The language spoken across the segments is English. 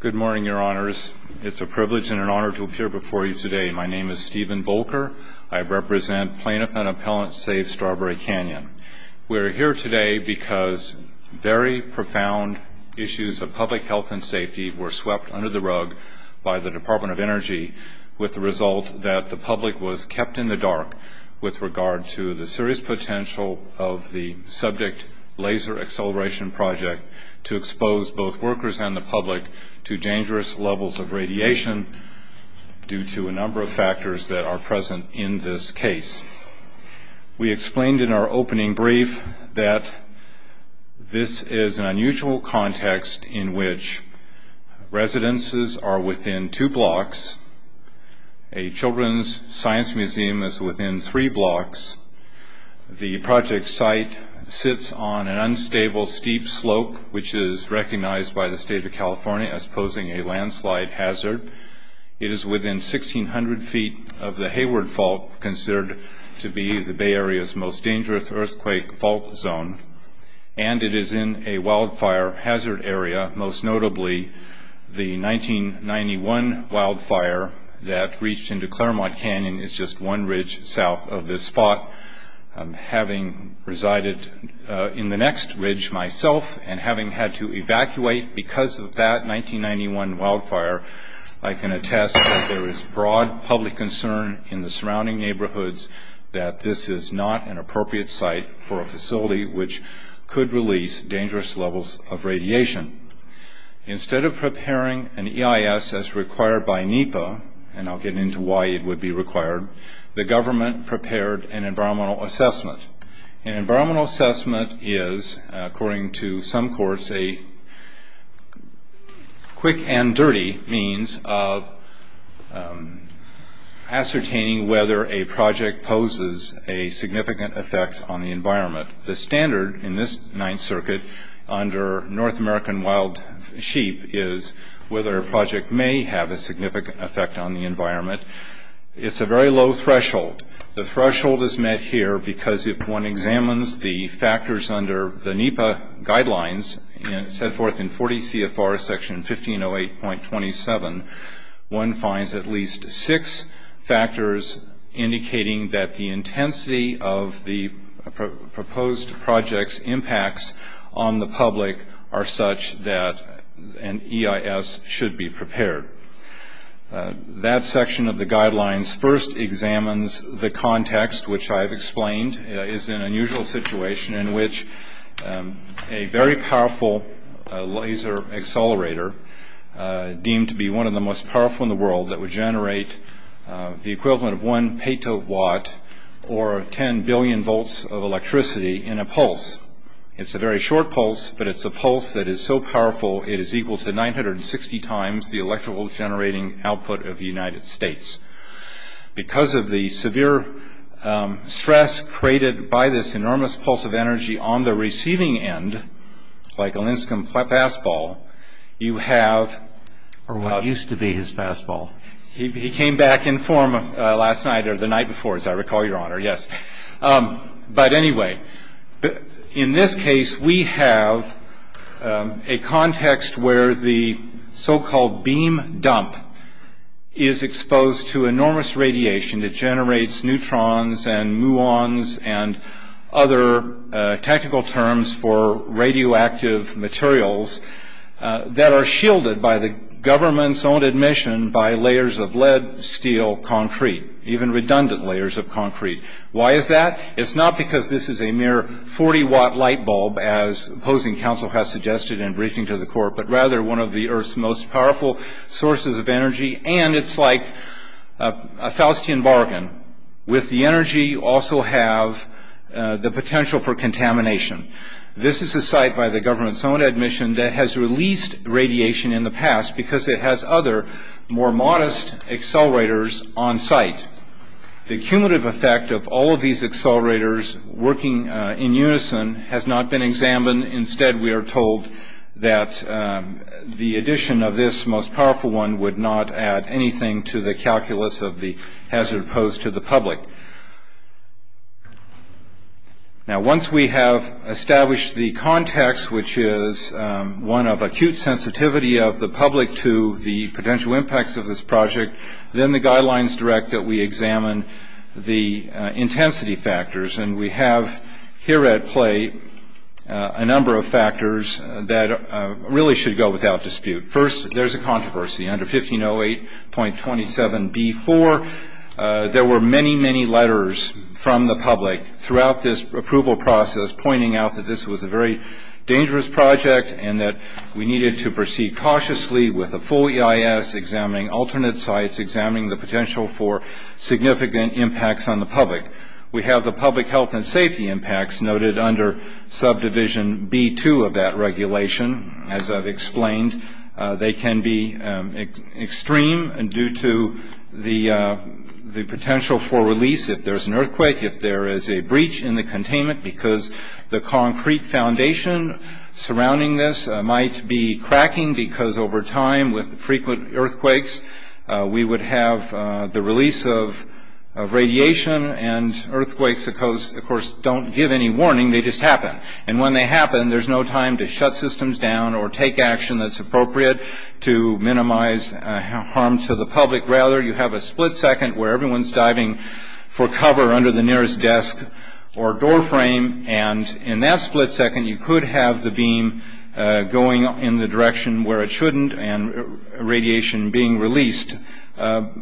Good morning, your honors. It's a privilege and an honor to appear before you today. My name is Steven Volker. I represent plaintiff and appellant Save Strawberry Canyon. We're here today because very profound issues of public health and safety were swept under the rug by the Department of Energy with the result that the public was kept in the dark with regard to the serious potential of the subject laser acceleration project to expose both workers and the public to dangerous levels of radiation due to a number of factors that are present in this case. We explained in our opening brief that this is an unusual context in which residences are within two blocks, a children's science museum is within three blocks, the project site sits on an unstable steep slope which is recognized by the state of California as posing a landslide hazard, it is within 1,600 feet of the Hayward Fault, considered to be the Bay Area's most dangerous earthquake fault zone, and it is in a wildfire hazard area, most notably the 1991 wildfire that reached into Claremont Canyon is just one ridge south of this spot. Having resided in the next ridge myself and having had to evacuate because of that 1991 wildfire, I can attest that there is broad public concern in the surrounding neighborhoods that this is not an appropriate site for a facility which could release dangerous levels of radiation. Instead of preparing an EIS as required by NEPA, and I'll get into why it would be required, the government prepared an environmental assessment. An environmental assessment is, according to some courts, a quick and dirty means of ascertaining whether a project poses a significant effect on the environment. The standard in this Ninth Circuit under North American wild sheep is whether a project may have a significant effect on the environment. It's a very low threshold. The threshold is met here because if one examines the factors under the NEPA guidelines set forth in 40 CFR section 1508.27, one finds at least six factors indicating that the intensity of the proposed project's impacts on the public are such that an EIS should be prepared. That section of the guidelines first examines the context, which I have explained is an unusual situation in which a very powerful laser accelerator deemed to be one of the most powerful in the world that would generate the equivalent of one petawatt or 10 billion volts of electricity in a pulse. It's a very short pulse, but it's a pulse that is so powerful it is equal to 960 times the electrical generating output of the United States. Because of the severe stress created by this enormous pulse of energy on the receiving end, like a Linscombe fastball, you have... Or what used to be his fastball. He came back in form last night or the night before, as I recall, Your Honor, yes. But anyway, in this case we have a context where the so-called beam dump is exposed to enormous radiation that generates neutrons and muons and other technical terms for radioactive materials that are shielded by the government's own admission by layers of lead, steel, concrete, even redundant layers of concrete. Why is that? It's not because this is a mere 40-watt light bulb, as opposing counsel has suggested in briefing to the court, but rather one of the Earth's most powerful sources of energy. And it's like a Faustian bargain. With the energy you also have the potential for contamination. This is a site by the government's own admission that has released radiation in the past because it has other more modest accelerators on site. The cumulative effect of all of these accelerators working in unison has not been examined. Instead, we are told that the addition of this most powerful one would not add anything to the calculus of the hazard posed to the public. Now, once we have established the context, which is one of acute sensitivity of the public to the potential impacts of this project, then the guidelines direct that we examine the intensity factors. And we have here at play a number of factors that really should go without dispute. First, there's a controversy. Under 1508.27b.4, there were many, many letters from the public throughout this approval process pointing out that this was a very dangerous project and that we needed to proceed cautiously with a full EIS, examining alternate sites, examining the potential for significant impacts on the public. We have the public health and safety impacts noted under subdivision B.2 of that regulation. As I've explained, they can be extreme due to the potential for release if there's an earthquake, if there is a breach in the containment because the concrete foundation surrounding this might be cracking because over time, with frequent earthquakes, we would have the release of radiation and earthquakes, of course, don't give any warning. They just happen. And when they happen, there's no time to shut systems down or take action that's appropriate to minimize harm to the public. Rather, you have a split second where everyone's diving for cover under the nearest desk or door frame. And in that split second, you could have the beam going in the direction where it shouldn't and radiation being released.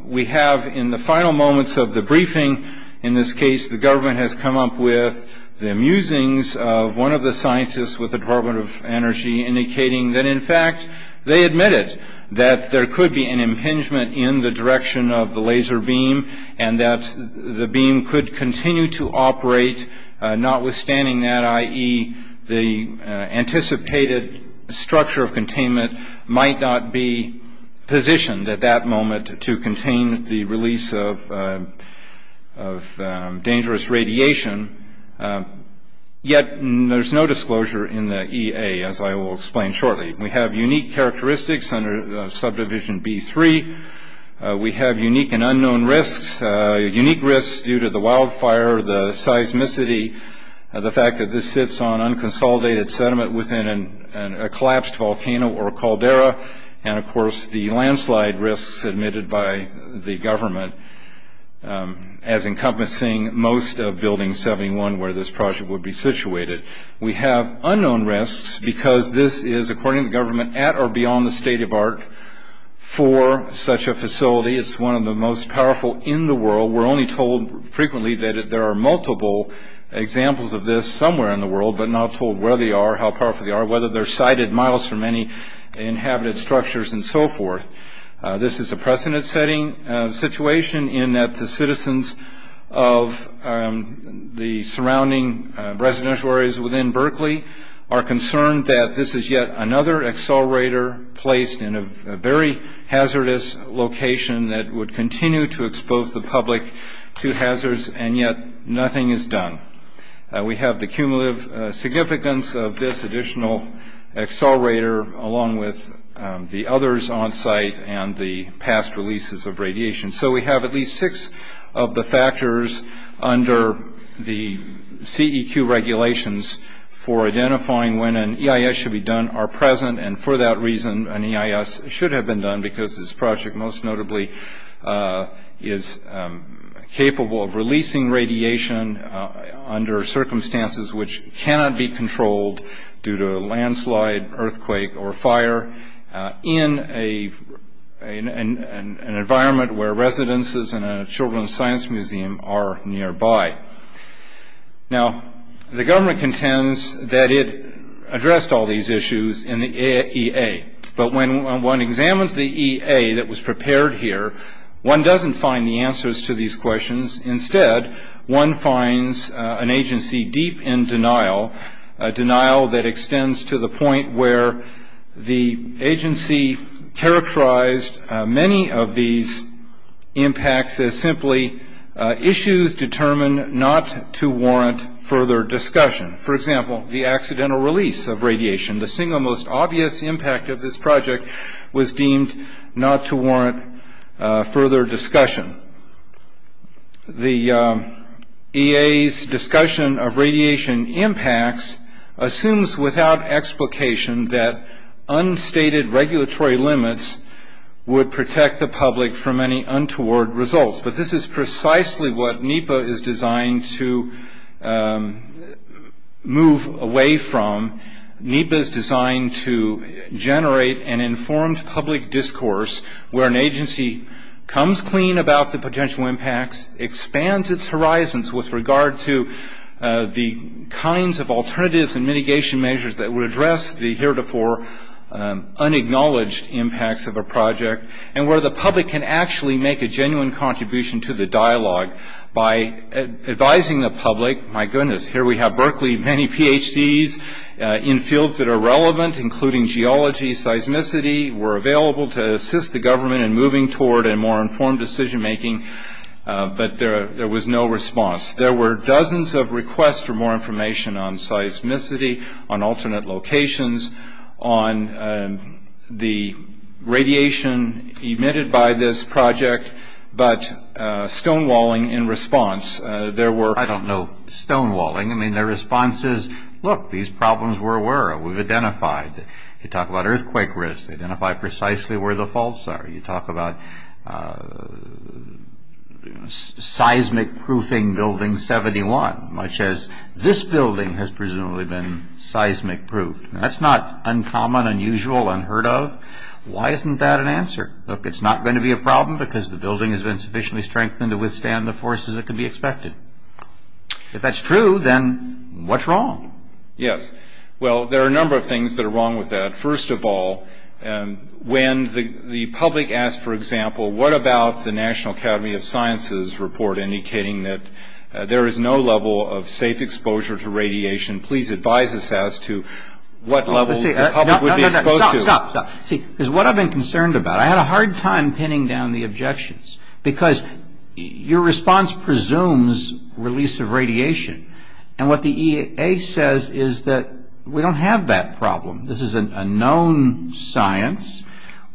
We have, in the final moments of the briefing, in this case, the government has come up with the musings of one of the scientists with the Department of Energy indicating that, in fact, they admitted that there could be an impingement in the direction of the laser beam and that the beam could continue to operate, notwithstanding that, i.e., the anticipated structure of containment might not be positioned at that moment to contain the release of dangerous radiation. Yet, there's no disclosure in the EA, as I will explain shortly. We have unique characteristics under subdivision B3. We have unique and unknown risks, unique risks due to the wildfire, the seismicity, the fact that this sits on unconsolidated sediment within a collapsed volcano or caldera, and, of course, the landslide risks admitted by the government as encompassing most of Building 71 where this project would be situated. We have unknown risks because this is, according to the government, at or beyond the state of art for such a facility. It's one of the most powerful in the world. We're only told frequently that there are multiple examples of this somewhere in the world, but not told where they are, how powerful they are, whether they're sited miles from any inhabited structures, and so forth. This is a precedent-setting situation in that the citizens of the surrounding residential areas within Berkeley are concerned that this is yet another accelerator placed in a very hazardous location that would continue to expose the public to hazards, and yet nothing is done. We have the cumulative significance of this additional accelerator along with the others on site and the past releases of radiation. So we have at least six of the factors under the CEQ regulations for identifying when an EIS should be done are present, and for that reason an EIS should have been done because this project most notably is capable of releasing radiation under circumstances which cannot be controlled due to a landslide, earthquake, or fire in an environment where residences in a children's science museum are nearby. Now, the government contends that it addressed all these issues in the EA, but when one examines the EA that was prepared here, one doesn't find the answers to these questions. Instead, one finds an agency deep in denial, a denial that extends to the point where the agency characterized many of these impacts as simply issues determined not to warrant further discussion. For example, the accidental release of radiation, the single most obvious impact of this project, was deemed not to warrant further discussion. The EA's discussion of radiation impacts assumes without explication that unstated regulatory limits would protect the public from any untoward results, but this is precisely what NEPA is designed to move away from. NEPA is designed to generate an informed public discourse where an agency comes clean about the potential impacts, expands its horizons with regard to the kinds of alternatives and mitigation measures that would address the heretofore unacknowledged impacts of a project, and where the public can actually make a genuine contribution to the dialogue by advising the public, my goodness, here we have Berkeley, many PhDs in fields that are relevant, including geology, seismicity, we're available to assist the government in moving toward a more informed decision making, but there was no response. There were dozens of requests for more information on seismicity, on alternate locations, on the radiation emitted by this project, but stonewalling in response, there were... I don't know stonewalling, I mean the response is, look, these problems were aware, we've identified, you talk about earthquake risk, identify precisely where the faults are, you talk about seismic proofing building 71, much as this building has presumably been seismic proofed. That's not uncommon, unusual, unheard of. Why isn't that an answer? Look, it's not going to be a problem because the building has been sufficiently strengthened to withstand the forces that could be expected. If that's true, then what's wrong? Yes, well, there are a number of things that are wrong with that. First of all, when the public asks, for example, what about the National Academy of Sciences report indicating that there is no level of safe exposure to radiation, please advise us as to what levels the public would be exposed to. No, no, no, stop, stop. See, because what I've been concerned about, I had a hard time pinning down the objections because your response presumes release of radiation, and what the EAA says is that we don't have that problem. This is a known science.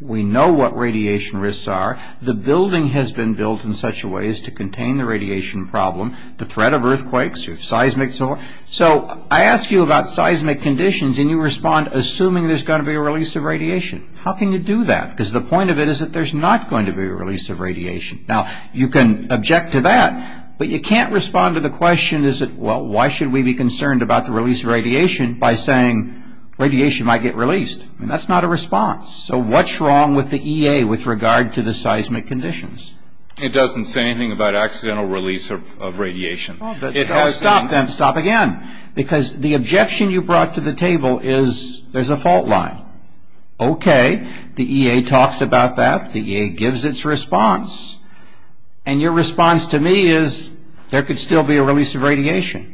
We know what radiation risks are. The building has been built in such a way as to contain the radiation problem, the threat of earthquakes or seismics. So I ask you about seismic conditions, and you respond assuming there's going to be a release of radiation. How can you do that? Because the point of it is that there's not going to be a release of radiation. Now, you can object to that, but you can't respond to the question, well, why should we be concerned about the release of radiation by saying radiation might get released? That's not a response. So what's wrong with the EAA with regard to the seismic conditions? It doesn't say anything about accidental release of radiation. Well, stop then, stop again, because the objection you brought to the table is there's a fault line. Okay, the EAA talks about that. The EAA gives its response, and your response to me is there could still be a release of radiation.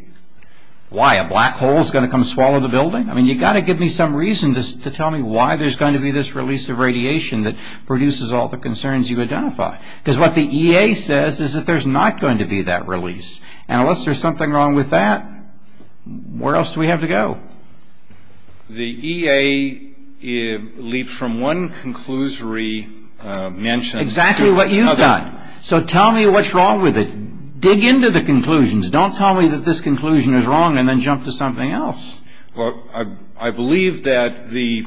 Why, a black hole is going to come swallow the building? I mean, you've got to give me some reason to tell me why there's going to be this release of radiation that produces all the concerns you identify. Because what the EAA says is that there's not going to be that release, and unless there's something wrong with that, where else do we have to go? The EAA leaps from one conclusory mention to another. Exactly what you've done. So tell me what's wrong with it. Dig into the conclusions. Don't tell me that this conclusion is wrong and then jump to something else. Well, I believe that the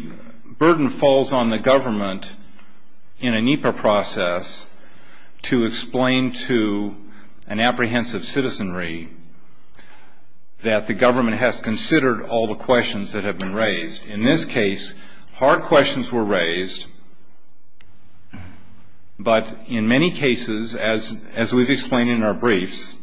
burden falls on the government in a NEPA process to explain to an apprehensive citizenry that the government has considered all the questions that have been raised. In this case, hard questions were raised, but in many cases, as we've explained in our briefs,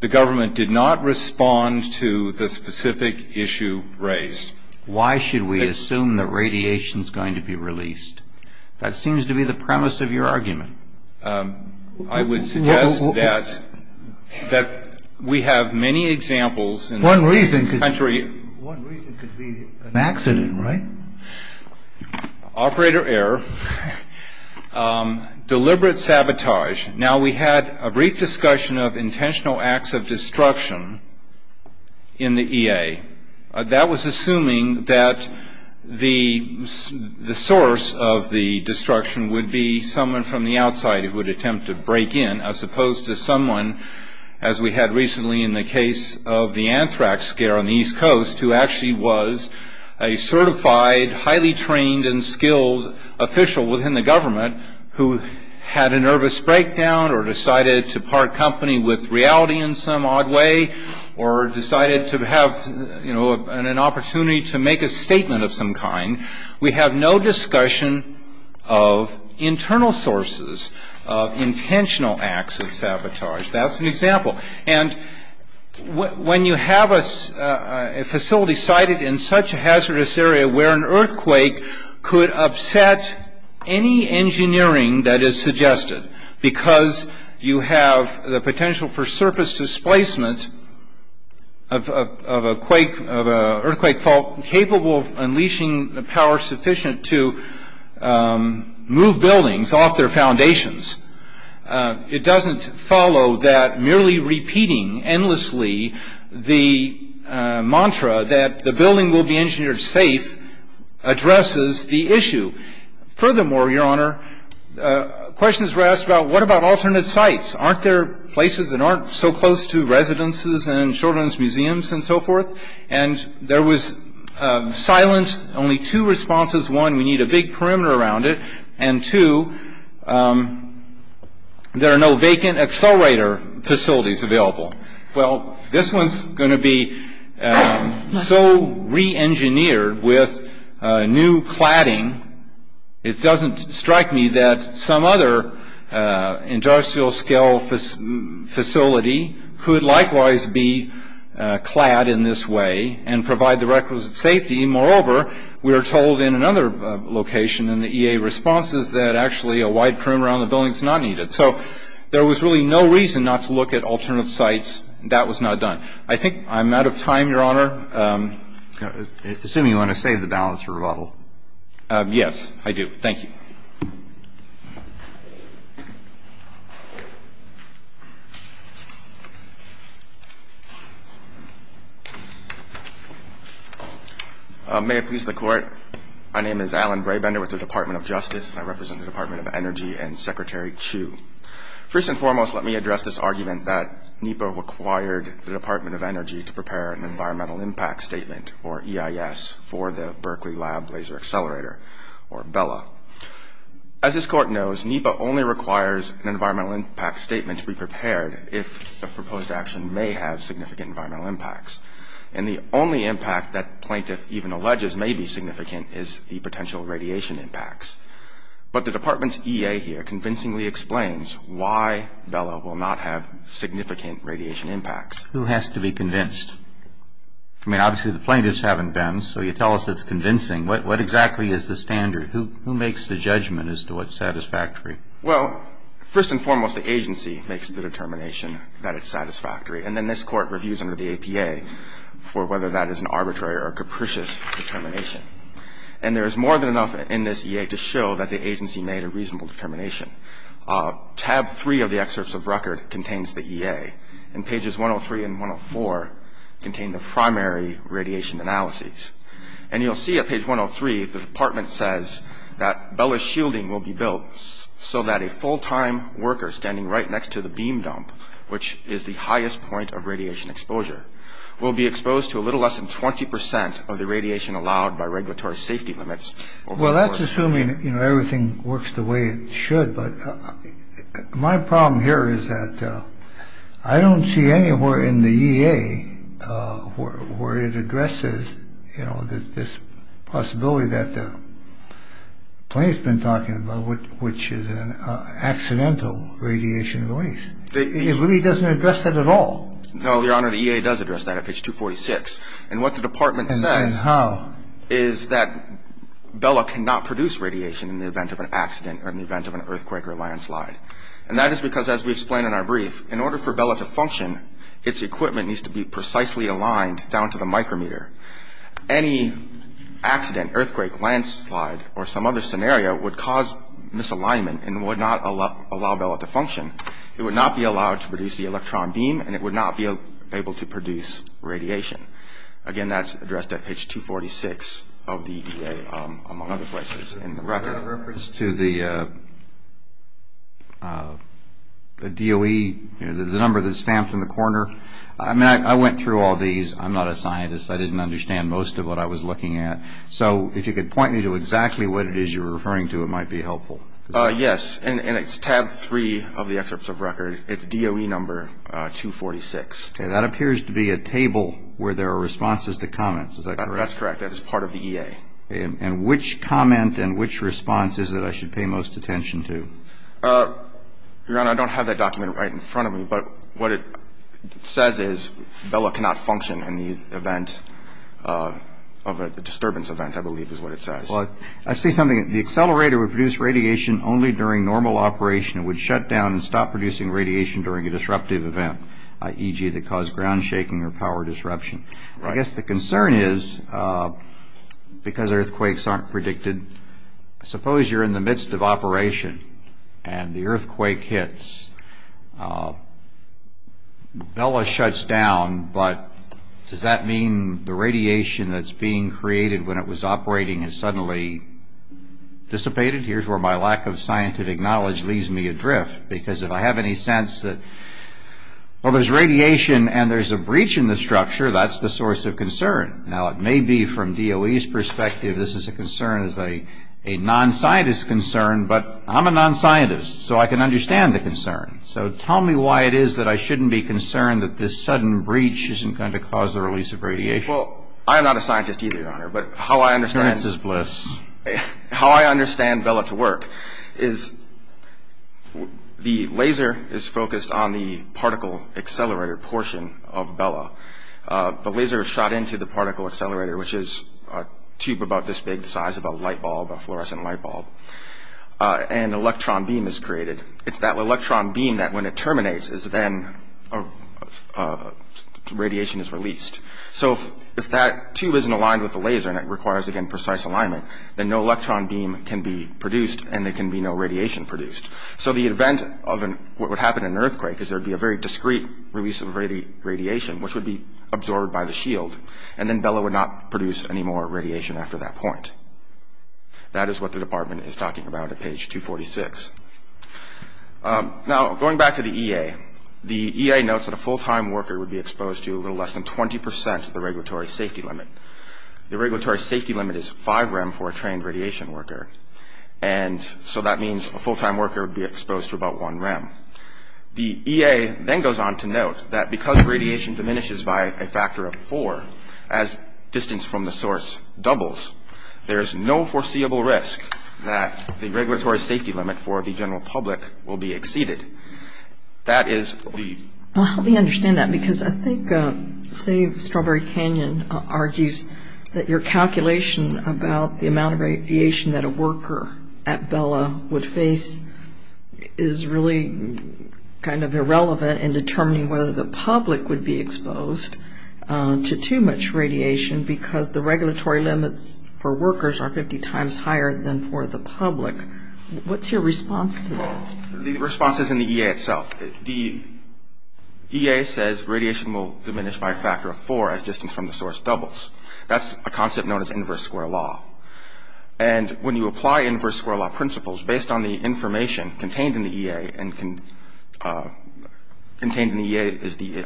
the government did not respond to the specific issue raised. Why should we assume that radiation is going to be released? That seems to be the premise of your argument. I would suggest that we have many examples in this country. One reason could be an accident, right? Operator error. Deliberate sabotage. Now, we had a brief discussion of intentional acts of destruction in the EAA. That was assuming that the source of the destruction would be someone from the outside who would attempt to break in as opposed to someone, as we had recently in the case of the anthrax scare on the East Coast, who actually was a certified, highly trained and skilled official within the government who had a nervous breakdown or decided to part company with reality in some odd way or decided to have an opportunity to make a statement of some kind. We have no discussion of internal sources of intentional acts of sabotage. That's an example. And when you have a facility sited in such a hazardous area where an earthquake could upset any engineering that is suggested because you have the potential for surface displacement of an earthquake fault capable of unleashing the power sufficient to move buildings off their foundations, it doesn't follow that merely repeating endlessly the mantra that the building will be engineered safe addresses the issue. Furthermore, Your Honor, questions were asked about what about alternate sites. Aren't there places that aren't so close to residences and children's museums and so forth? And there was silence, only two responses. One, we need a big perimeter around it. And two, there are no vacant accelerator facilities available. Well, this one is going to be so reengineered with new cladding, it doesn't strike me that some other industrial scale facility could likewise be clad in this way and provide the requisite safety. Moreover, we were told in another location in the EA responses that actually a wide perimeter around the building is not needed. So there was really no reason not to look at alternative sites. That was not done. I think I'm out of time, Your Honor. Assuming you want to save the balance for rebuttal. Yes, I do. Thank you. May it please the Court, my name is Alan Brabender with the Department of Justice, and I represent the Department of Energy and Secretary Chu. First and foremost, let me address this argument that NEPA required the Department of Energy to prepare an environmental impact statement, or EIS, for the Berkeley Lab Laser Accelerator, or BELA. As this Court knows, NEPA only requires an environmental impact statement to be prepared if the proposed action may have significant environmental impacts. And the only impact that plaintiff even alleges may be significant is the potential radiation impacts. But the Department's EA here convincingly explains why BELA will not have significant radiation impacts. Who has to be convinced? I mean, obviously the plaintiffs haven't been, so you tell us it's convincing. What exactly is the standard? Who makes the judgment as to what's satisfactory? Well, first and foremost, the agency makes the determination that it's satisfactory. And then this Court reviews under the APA for whether that is an arbitrary or a capricious determination. And there is more than enough in this EA to show that the agency made a reasonable determination. Tab 3 of the excerpts of record contains the EA, and pages 103 and 104 contain the primary radiation analyses. And you'll see at page 103 the Department says that BELA shielding will be built so that a full time worker standing right next to the beam dump, which is the highest point of radiation exposure, will be exposed to a little less than 20 percent of the radiation allowed by regulatory safety limits. Well, that's assuming, you know, everything works the way it should. But my problem here is that I don't see anywhere in the EA where it addresses, you know, this possibility that the plaintiff's been talking about, which is an accidental radiation release. It really doesn't address that at all. No, Your Honor, the EA does address that at page 246. And what the Department says is that BELA cannot produce radiation in the event of an accident or in the event of an earthquake or landslide. And that is because, as we explained in our brief, in order for BELA to function, its equipment needs to be precisely aligned down to the micrometer. Any accident, earthquake, landslide, or some other scenario would cause misalignment and would not allow BELA to function. It would not be allowed to produce the electron beam, and it would not be able to produce radiation. Again, that's addressed at page 246 of the EA, among other places in the record. Is that a reference to the DOE, the number that's stamped in the corner? I mean, I went through all these. I'm not a scientist. I didn't understand most of what I was looking at. So if you could point me to exactly what it is you were referring to, it might be helpful. Yes, and it's tab 3 of the excerpts of record. It's DOE number 246. Okay. That appears to be a table where there are responses to comments. Is that correct? That's correct. That is part of the EA. And which comment and which response is it I should pay most attention to? Your Honor, I don't have that document right in front of me. But what it says is Bella cannot function in the event of a disturbance event, I believe is what it says. Well, I see something. The accelerator would produce radiation only during normal operation. It would shut down and stop producing radiation during a disruptive event, e.g. that caused ground shaking or power disruption. I guess the concern is, because earthquakes aren't predicted, and suppose you're in the midst of operation and the earthquake hits. Bella shuts down, but does that mean the radiation that's being created when it was operating has suddenly dissipated? Here's where my lack of scientific knowledge leaves me adrift, because if I have any sense that, well, there's radiation and there's a breach in the structure, that's the source of concern. Now, it may be from DOE's perspective this is a concern as a non-scientist concern, but I'm a non-scientist, so I can understand the concern. So tell me why it is that I shouldn't be concerned that this sudden breach isn't going to cause the release of radiation. Well, I am not a scientist either, Your Honor. But how I understand Bella to work is the laser is focused on the particle accelerator portion of Bella. The laser is shot into the particle accelerator, which is a tube about this big, the size of a light bulb, a fluorescent light bulb, and an electron beam is created. It's that electron beam that, when it terminates, radiation is released. So if that tube isn't aligned with the laser and it requires, again, precise alignment, then no electron beam can be produced and there can be no radiation produced. So the event of what would happen in an earthquake is there would be a very discrete release of radiation, which would be absorbed by the shield, and then Bella would not produce any more radiation after that point. That is what the Department is talking about at page 246. Now, going back to the EA, the EA notes that a full-time worker would be exposed to a little less than 20 percent of the regulatory safety limit. The regulatory safety limit is 5 rem for a trained radiation worker, and so that means a full-time worker would be exposed to about 1 rem. The EA then goes on to note that because radiation diminishes by a factor of 4 as distance from the source doubles, there is no foreseeable risk that the regulatory safety limit for the general public will be exceeded. That is the... Let me understand that because I think Save Strawberry Canyon argues that your calculation about the amount of radiation that a worker at Bella would face is really kind of irrelevant in determining whether the public would be exposed to too much radiation because the regulatory limits for workers are 50 times higher than for the public. What's your response to that? The response is in the EA itself. The EA says radiation will diminish by a factor of 4 as distance from the source doubles. That's a concept known as inverse square law, and when you apply inverse square law principles based on the information contained in the EA, and contained in the EA is the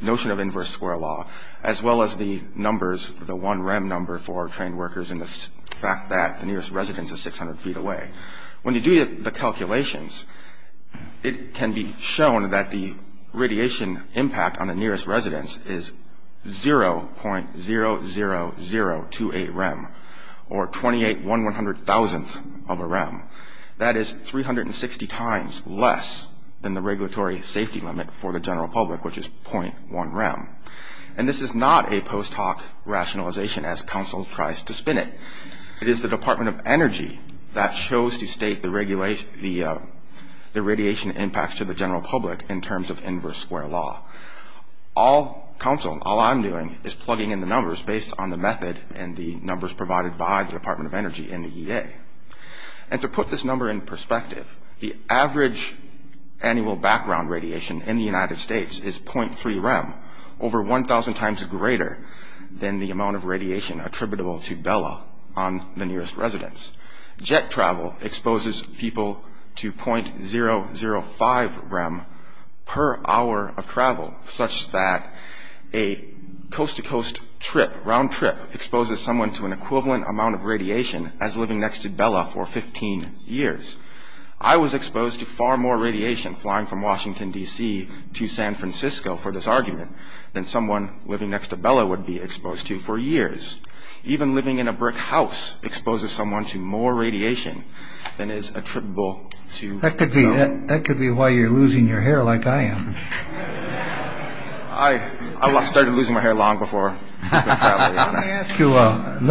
notion of inverse square law, as well as the numbers, the 1 rem number for trained workers and the fact that the nearest residence is 600 feet away, when you do the calculations, it can be shown that the radiation impact on the nearest residence is 0.00028 rem, or 28,100,000th of a rem. That is 360 times less than the regulatory safety limit for the general public, which is 0.1 rem, and this is not a post hoc rationalization as council tries to spin it. It is the Department of Energy that chose to state the radiation impacts to the general public in terms of inverse square law. All council, all I'm doing is plugging in the numbers based on the method and the numbers provided by the Department of Energy and the EA. To put this number in perspective, the average annual background radiation in the United States is 0.3 rem, over 1,000 times greater than the amount of radiation attributable to Bella on the nearest residence. Jet travel exposes people to 0.005 rem per hour of travel, such that a coast-to-coast trip, round trip, exposes someone to an equivalent amount of radiation as living next to Bella for 15 years. I was exposed to far more radiation flying from Washington, D.C., to San Francisco for this argument than someone living next to Bella would be exposed to for years. Even living in a brick house exposes someone to more radiation than is attributable to. That could be that could be why you're losing your hair like I am. I started losing my hair long before. You let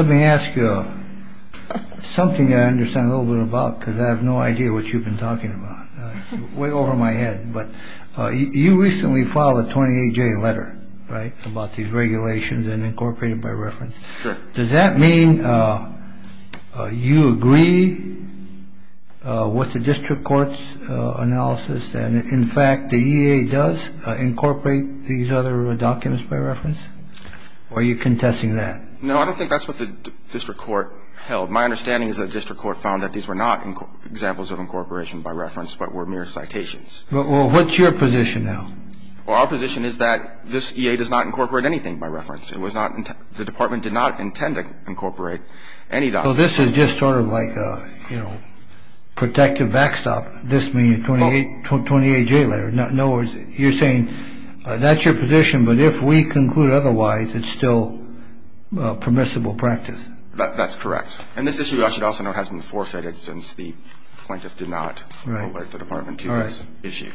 me ask you something I understand a little bit about because I have no idea what you've been talking about. Way over my head. But you recently filed a 28 day letter. Right. About these regulations and incorporated by reference. Does that mean you agree with the district court's analysis? In fact, the E.A. does incorporate these other documents by reference. Are you contesting that? No, I don't think that's what the district court held. My understanding is that district court found that these were not examples of incorporation by reference, but were mere citations. Well, what's your position now? Well, our position is that this E.A. does not incorporate anything by reference. It was not the department did not intend to incorporate any. Well, this is just sort of like, you know, protective backstop. This means 28 to 28 day later. No, you're saying that's your position. But if we conclude otherwise, it's still permissible practice. That's correct. And this issue, I should also know, has been forfeited since the plaintiff did not write the department to this issue.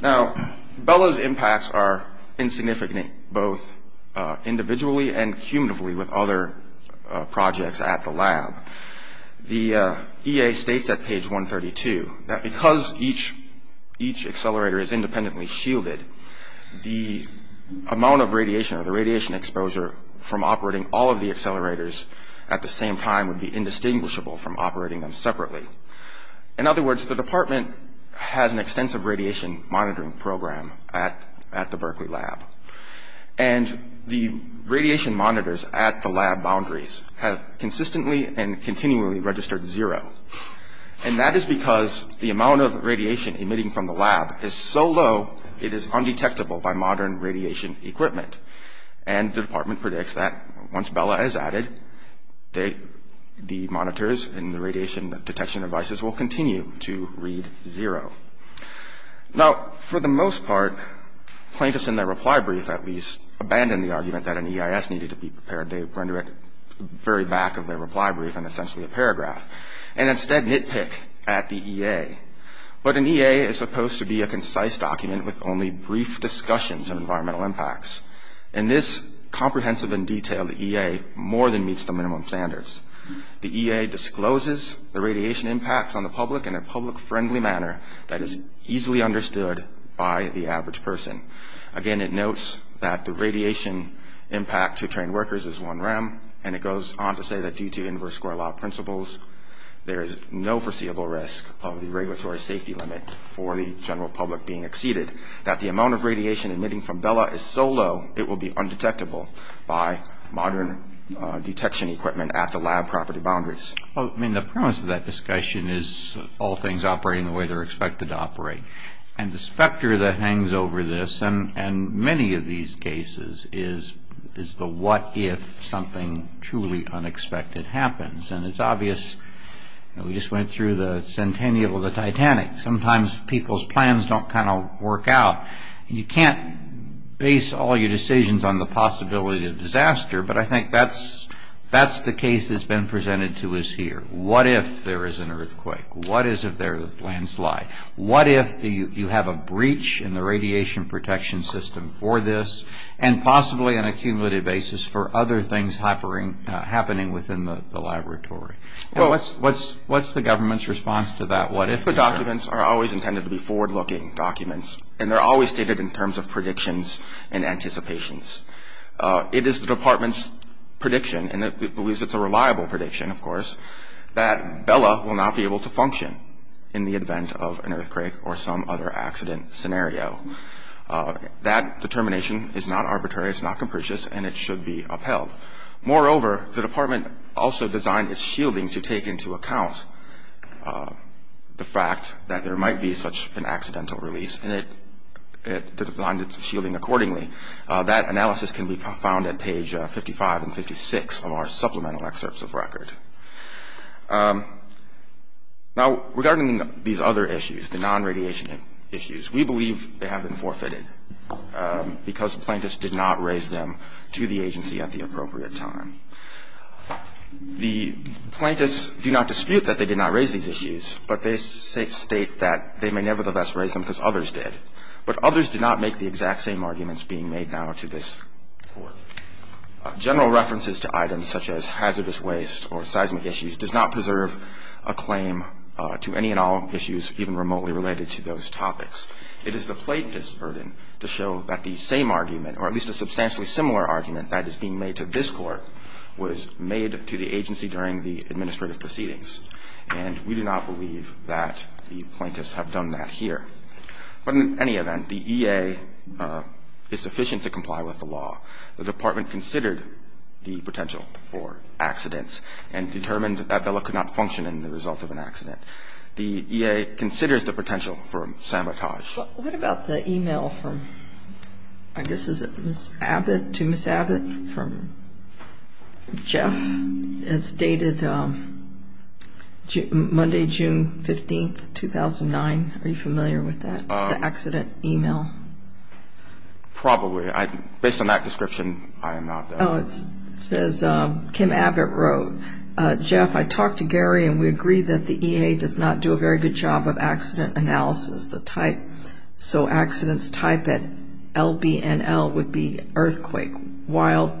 Now, Bella's impacts are insignificant, both individually and cumulatively with other projects at the lab. The E.A. states at page 132 that because each each accelerator is independently shielded, the amount of radiation or the radiation exposure from operating all of the accelerators at the same time would be indistinguishable from operating them separately. In other words, the department has an extensive radiation monitoring program at at the Berkeley lab. And the radiation monitors at the lab boundaries have consistently and continually registered zero. And that is because the amount of radiation emitting from the lab is so low, it is undetectable by modern radiation equipment. And the department predicts that once Bella is added, the monitors and the radiation detection devices will continue to read zero. Now, for the most part, plaintiffs in their reply brief at least abandoned the argument that an E.I.S. needed to be prepared. They render it very back of their reply brief and essentially a paragraph and instead nitpick at the E.A. But an E.A. is supposed to be a concise document with only brief discussions of environmental impacts. And this comprehensive and detailed E.A. more than meets the minimum standards. The E.A. discloses the radiation impacts on the public in a public friendly manner that is easily understood by the average person. Again, it notes that the radiation impact to trained workers is one rem. And it goes on to say that due to inverse score law principles, there is no foreseeable risk of the regulatory safety limit for the general public being exceeded. That the amount of radiation emitting from Bella is so low, it will be undetectable by modern detection equipment at the lab property boundaries. I mean, the premise of that discussion is all things operating the way they're expected to operate. And the specter that hangs over this and many of these cases is the what if something truly unexpected happens. And it's obvious. We just went through the centennial of the Titanic. Sometimes people's plans don't kind of work out. You can't base all your decisions on the possibility of disaster. But I think that's the case that's been presented to us here. What if there is an earthquake? What is if there is a landslide? What if you have a breach in the radiation protection system for this, and possibly an accumulated basis for other things happening within the laboratory? What's the government's response to that what if? The documents are always intended to be forward-looking documents. And they're always stated in terms of predictions and anticipations. It is the department's prediction, and it believes it's a reliable prediction, of course, that Bella will not be able to function in the event of an earthquake or some other accident scenario. That determination is not arbitrary. It's not capricious. And it should be upheld. Moreover, the department also designed its shielding to take into account the fact that there might be such an accidental release. And it designed its shielding accordingly. That analysis can be found at page 55 and 56 of our supplemental excerpts of record. Now, regarding these other issues, the non-radiation issues, we believe they have been forfeited because plaintiffs did not raise them to the agency at the appropriate time. The plaintiffs do not dispute that they did not raise these issues, but they state that they may nevertheless raise them because others did. But others did not make the exact same arguments being made now to this Court. General references to items such as hazardous waste or seismic issues does not preserve a claim to any and all issues even remotely related to those topics. It is the plaintiff's burden to show that the same argument, or at least a substantially similar argument that is being made to this Court, was made to the agency during the administrative proceedings. And we do not believe that the plaintiffs have done that here. But in any event, the E.A. is sufficient to comply with the law. The Department considered the potential for accidents and determined that Bella could not function in the result of an accident. The E.A. considers the potential for sabotage. But what about the e-mail from, I guess, is it Ms. Abbott, to Ms. Abbott, from Jeff? It's dated Monday, June 15, 2009. Are you familiar with that, the accident e-mail? Probably. Based on that description, I am not, though. Oh, it says, Kim Abbott wrote, Jeff, I talked to Gary and we agree that the E.A. does not do a very good job of accident analysis. The type, so accidents type at LBNL would be earthquake, wild,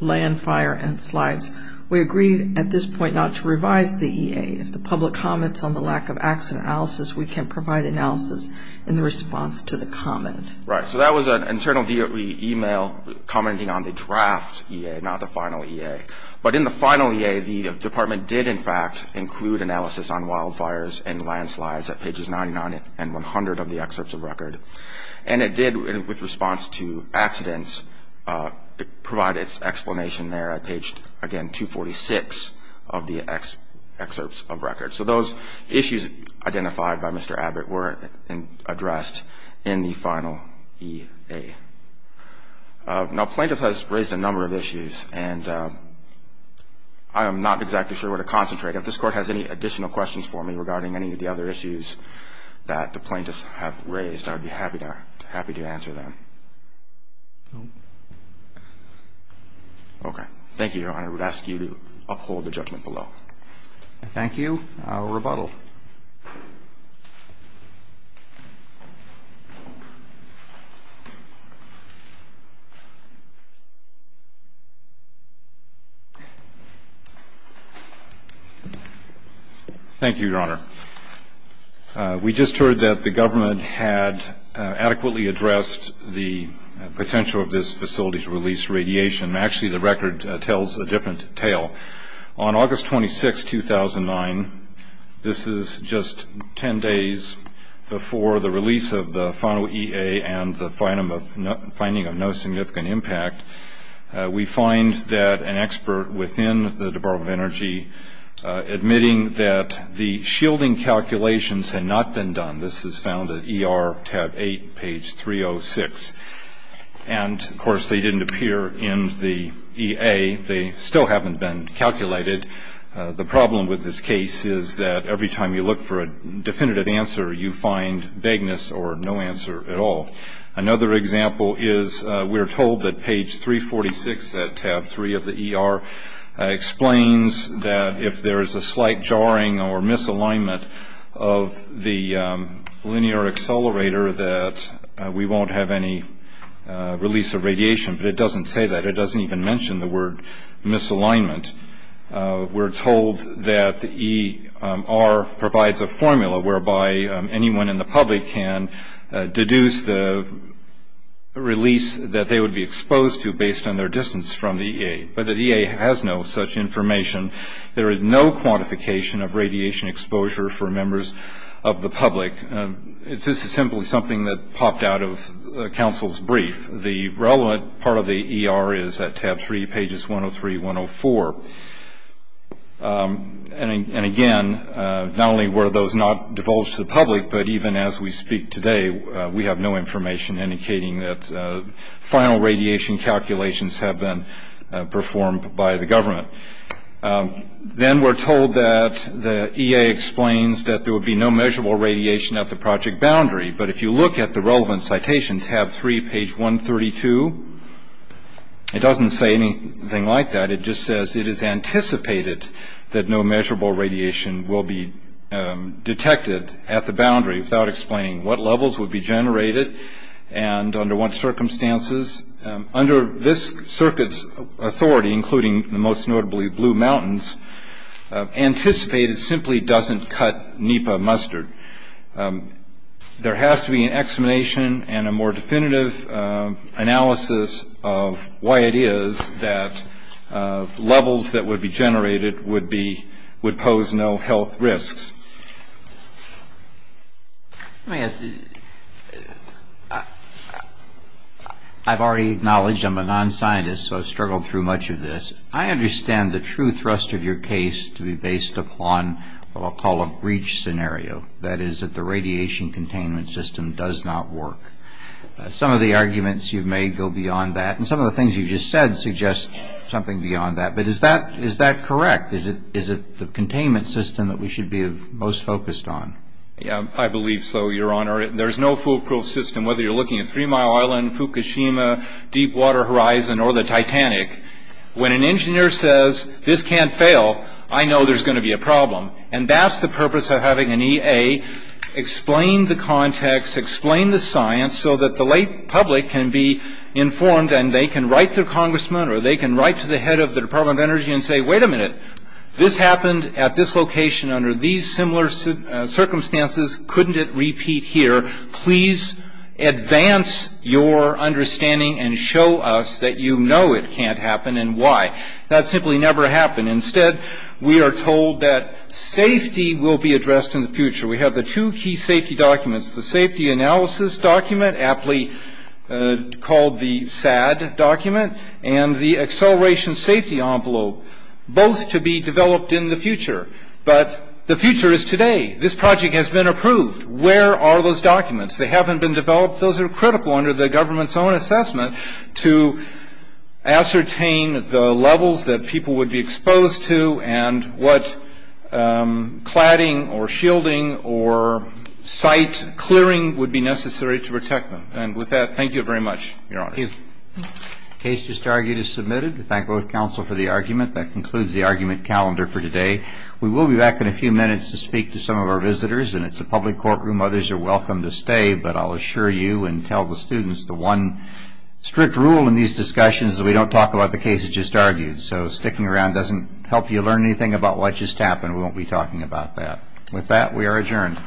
land fire, and slides. We agree at this point not to revise the E.A. If the public comments on the lack of accident analysis, we can provide analysis in response to the comment. Right. So that was an internal e-mail commenting on the draft E.A., not the final E.A. But in the final E.A., the Department did, in fact, include analysis on wildfires and landslides at pages 99 and 100 of the excerpts of record. And it did, with response to accidents, provide its explanation there at page, again, 246 of the excerpts of record. So those issues identified by Mr. Abbott were addressed in the final E.A. Now, plaintiff has raised a number of issues, and I am not exactly sure where to concentrate. If this Court has any additional questions for me regarding any of the other issues that the plaintiffs have raised, I would be happy to answer them. Okay. Thank you, Your Honor. I would ask you to uphold the judgment below. Thank you. Rebuttal. Thank you, Your Honor. We just heard that the government had adequately addressed the potential of this facility to release radiation. Actually, the record tells a different tale. On August 26, 2009, this is just 10 days before the release of the final E.A. and the finding of no significant impact, we find that an expert within the Department of Energy, admitting that the shielding calculations had not been done. This is found at ER tab 8, page 306. And, of course, they didn't appear in the E.A. They still haven't been calculated. The problem with this case is that every time you look for a definitive answer, you find vagueness or no answer at all. Another example is we're told that page 346 at tab 3 of the E.R. explains that if there is a slight jarring or misalignment of the linear accelerator, that we won't have any release of radiation. But it doesn't say that. It doesn't even mention the word misalignment. We're told that the E.R. provides a formula whereby anyone in the public can deduce the release that they would be exposed to based on their distance from the E.A. But the E.A. has no such information. There is no quantification of radiation exposure for members of the public. This is simply something that popped out of counsel's brief. The relevant part of the E.R. is at tab 3, pages 103, 104. And, again, not only were those not divulged to the public, but even as we speak today, we have no information indicating that final radiation calculations have been performed by the government. Then we're told that the E.A. explains that there would be no measurable radiation at the project boundary. But if you look at the relevant citation, tab 3, page 132, it doesn't say anything like that. It just says it is anticipated that no measurable radiation will be detected at the boundary without explaining what levels would be generated and under what circumstances. Under this circuit's authority, including the most notably Blue Mountains, anticipated simply doesn't cut NEPA mustard. There has to be an explanation and a more definitive analysis of why it is that levels that would be generated would pose no health risks. I've already acknowledged I'm a non-scientist, so I've struggled through much of this. I understand the true thrust of your case to be based upon what I'll call a breach scenario. That is that the radiation containment system does not work. Some of the arguments you've made go beyond that, and some of the things you've just said suggest something beyond that. But is that correct? Is it the containment system that we should be most focused on? I believe so, Your Honor. There's no foolproof system, whether you're looking at Three Mile Island, Fukushima, Deepwater Horizon, or the Titanic. When an engineer says, this can't fail, I know there's going to be a problem. And that's the purpose of having an EA explain the context, explain the science, so that the lay public can be informed and they can write their congressman or they can write to the head of the Department of Energy and say, wait a minute. This happened at this location under these similar circumstances. Couldn't it repeat here? Please advance your understanding and show us that you know it can't happen and why. That simply never happened. Instead, we are told that safety will be addressed in the future. We have the two key safety documents, the safety analysis document, aptly called the SAD document, and the acceleration safety envelope, both to be developed in the future. But the future is today. This project has been approved. Where are those documents? They haven't been developed. Those are critical under the government's own assessment to ascertain the levels that people would be exposed to and what cladding or shielding or site clearing would be necessary to protect them. And with that, thank you very much, Your Honor. Thank you. The case just argued is submitted. We thank both counsel for the argument. That concludes the argument calendar for today. We will be back in a few minutes to speak to some of our visitors, and it's a public courtroom. Others are welcome to stay, but I'll assure you and tell the students the one strict rule in these discussions is we don't talk about the cases just argued. So sticking around doesn't help you learn anything about what just happened. We won't be talking about that. With that, we are adjourned.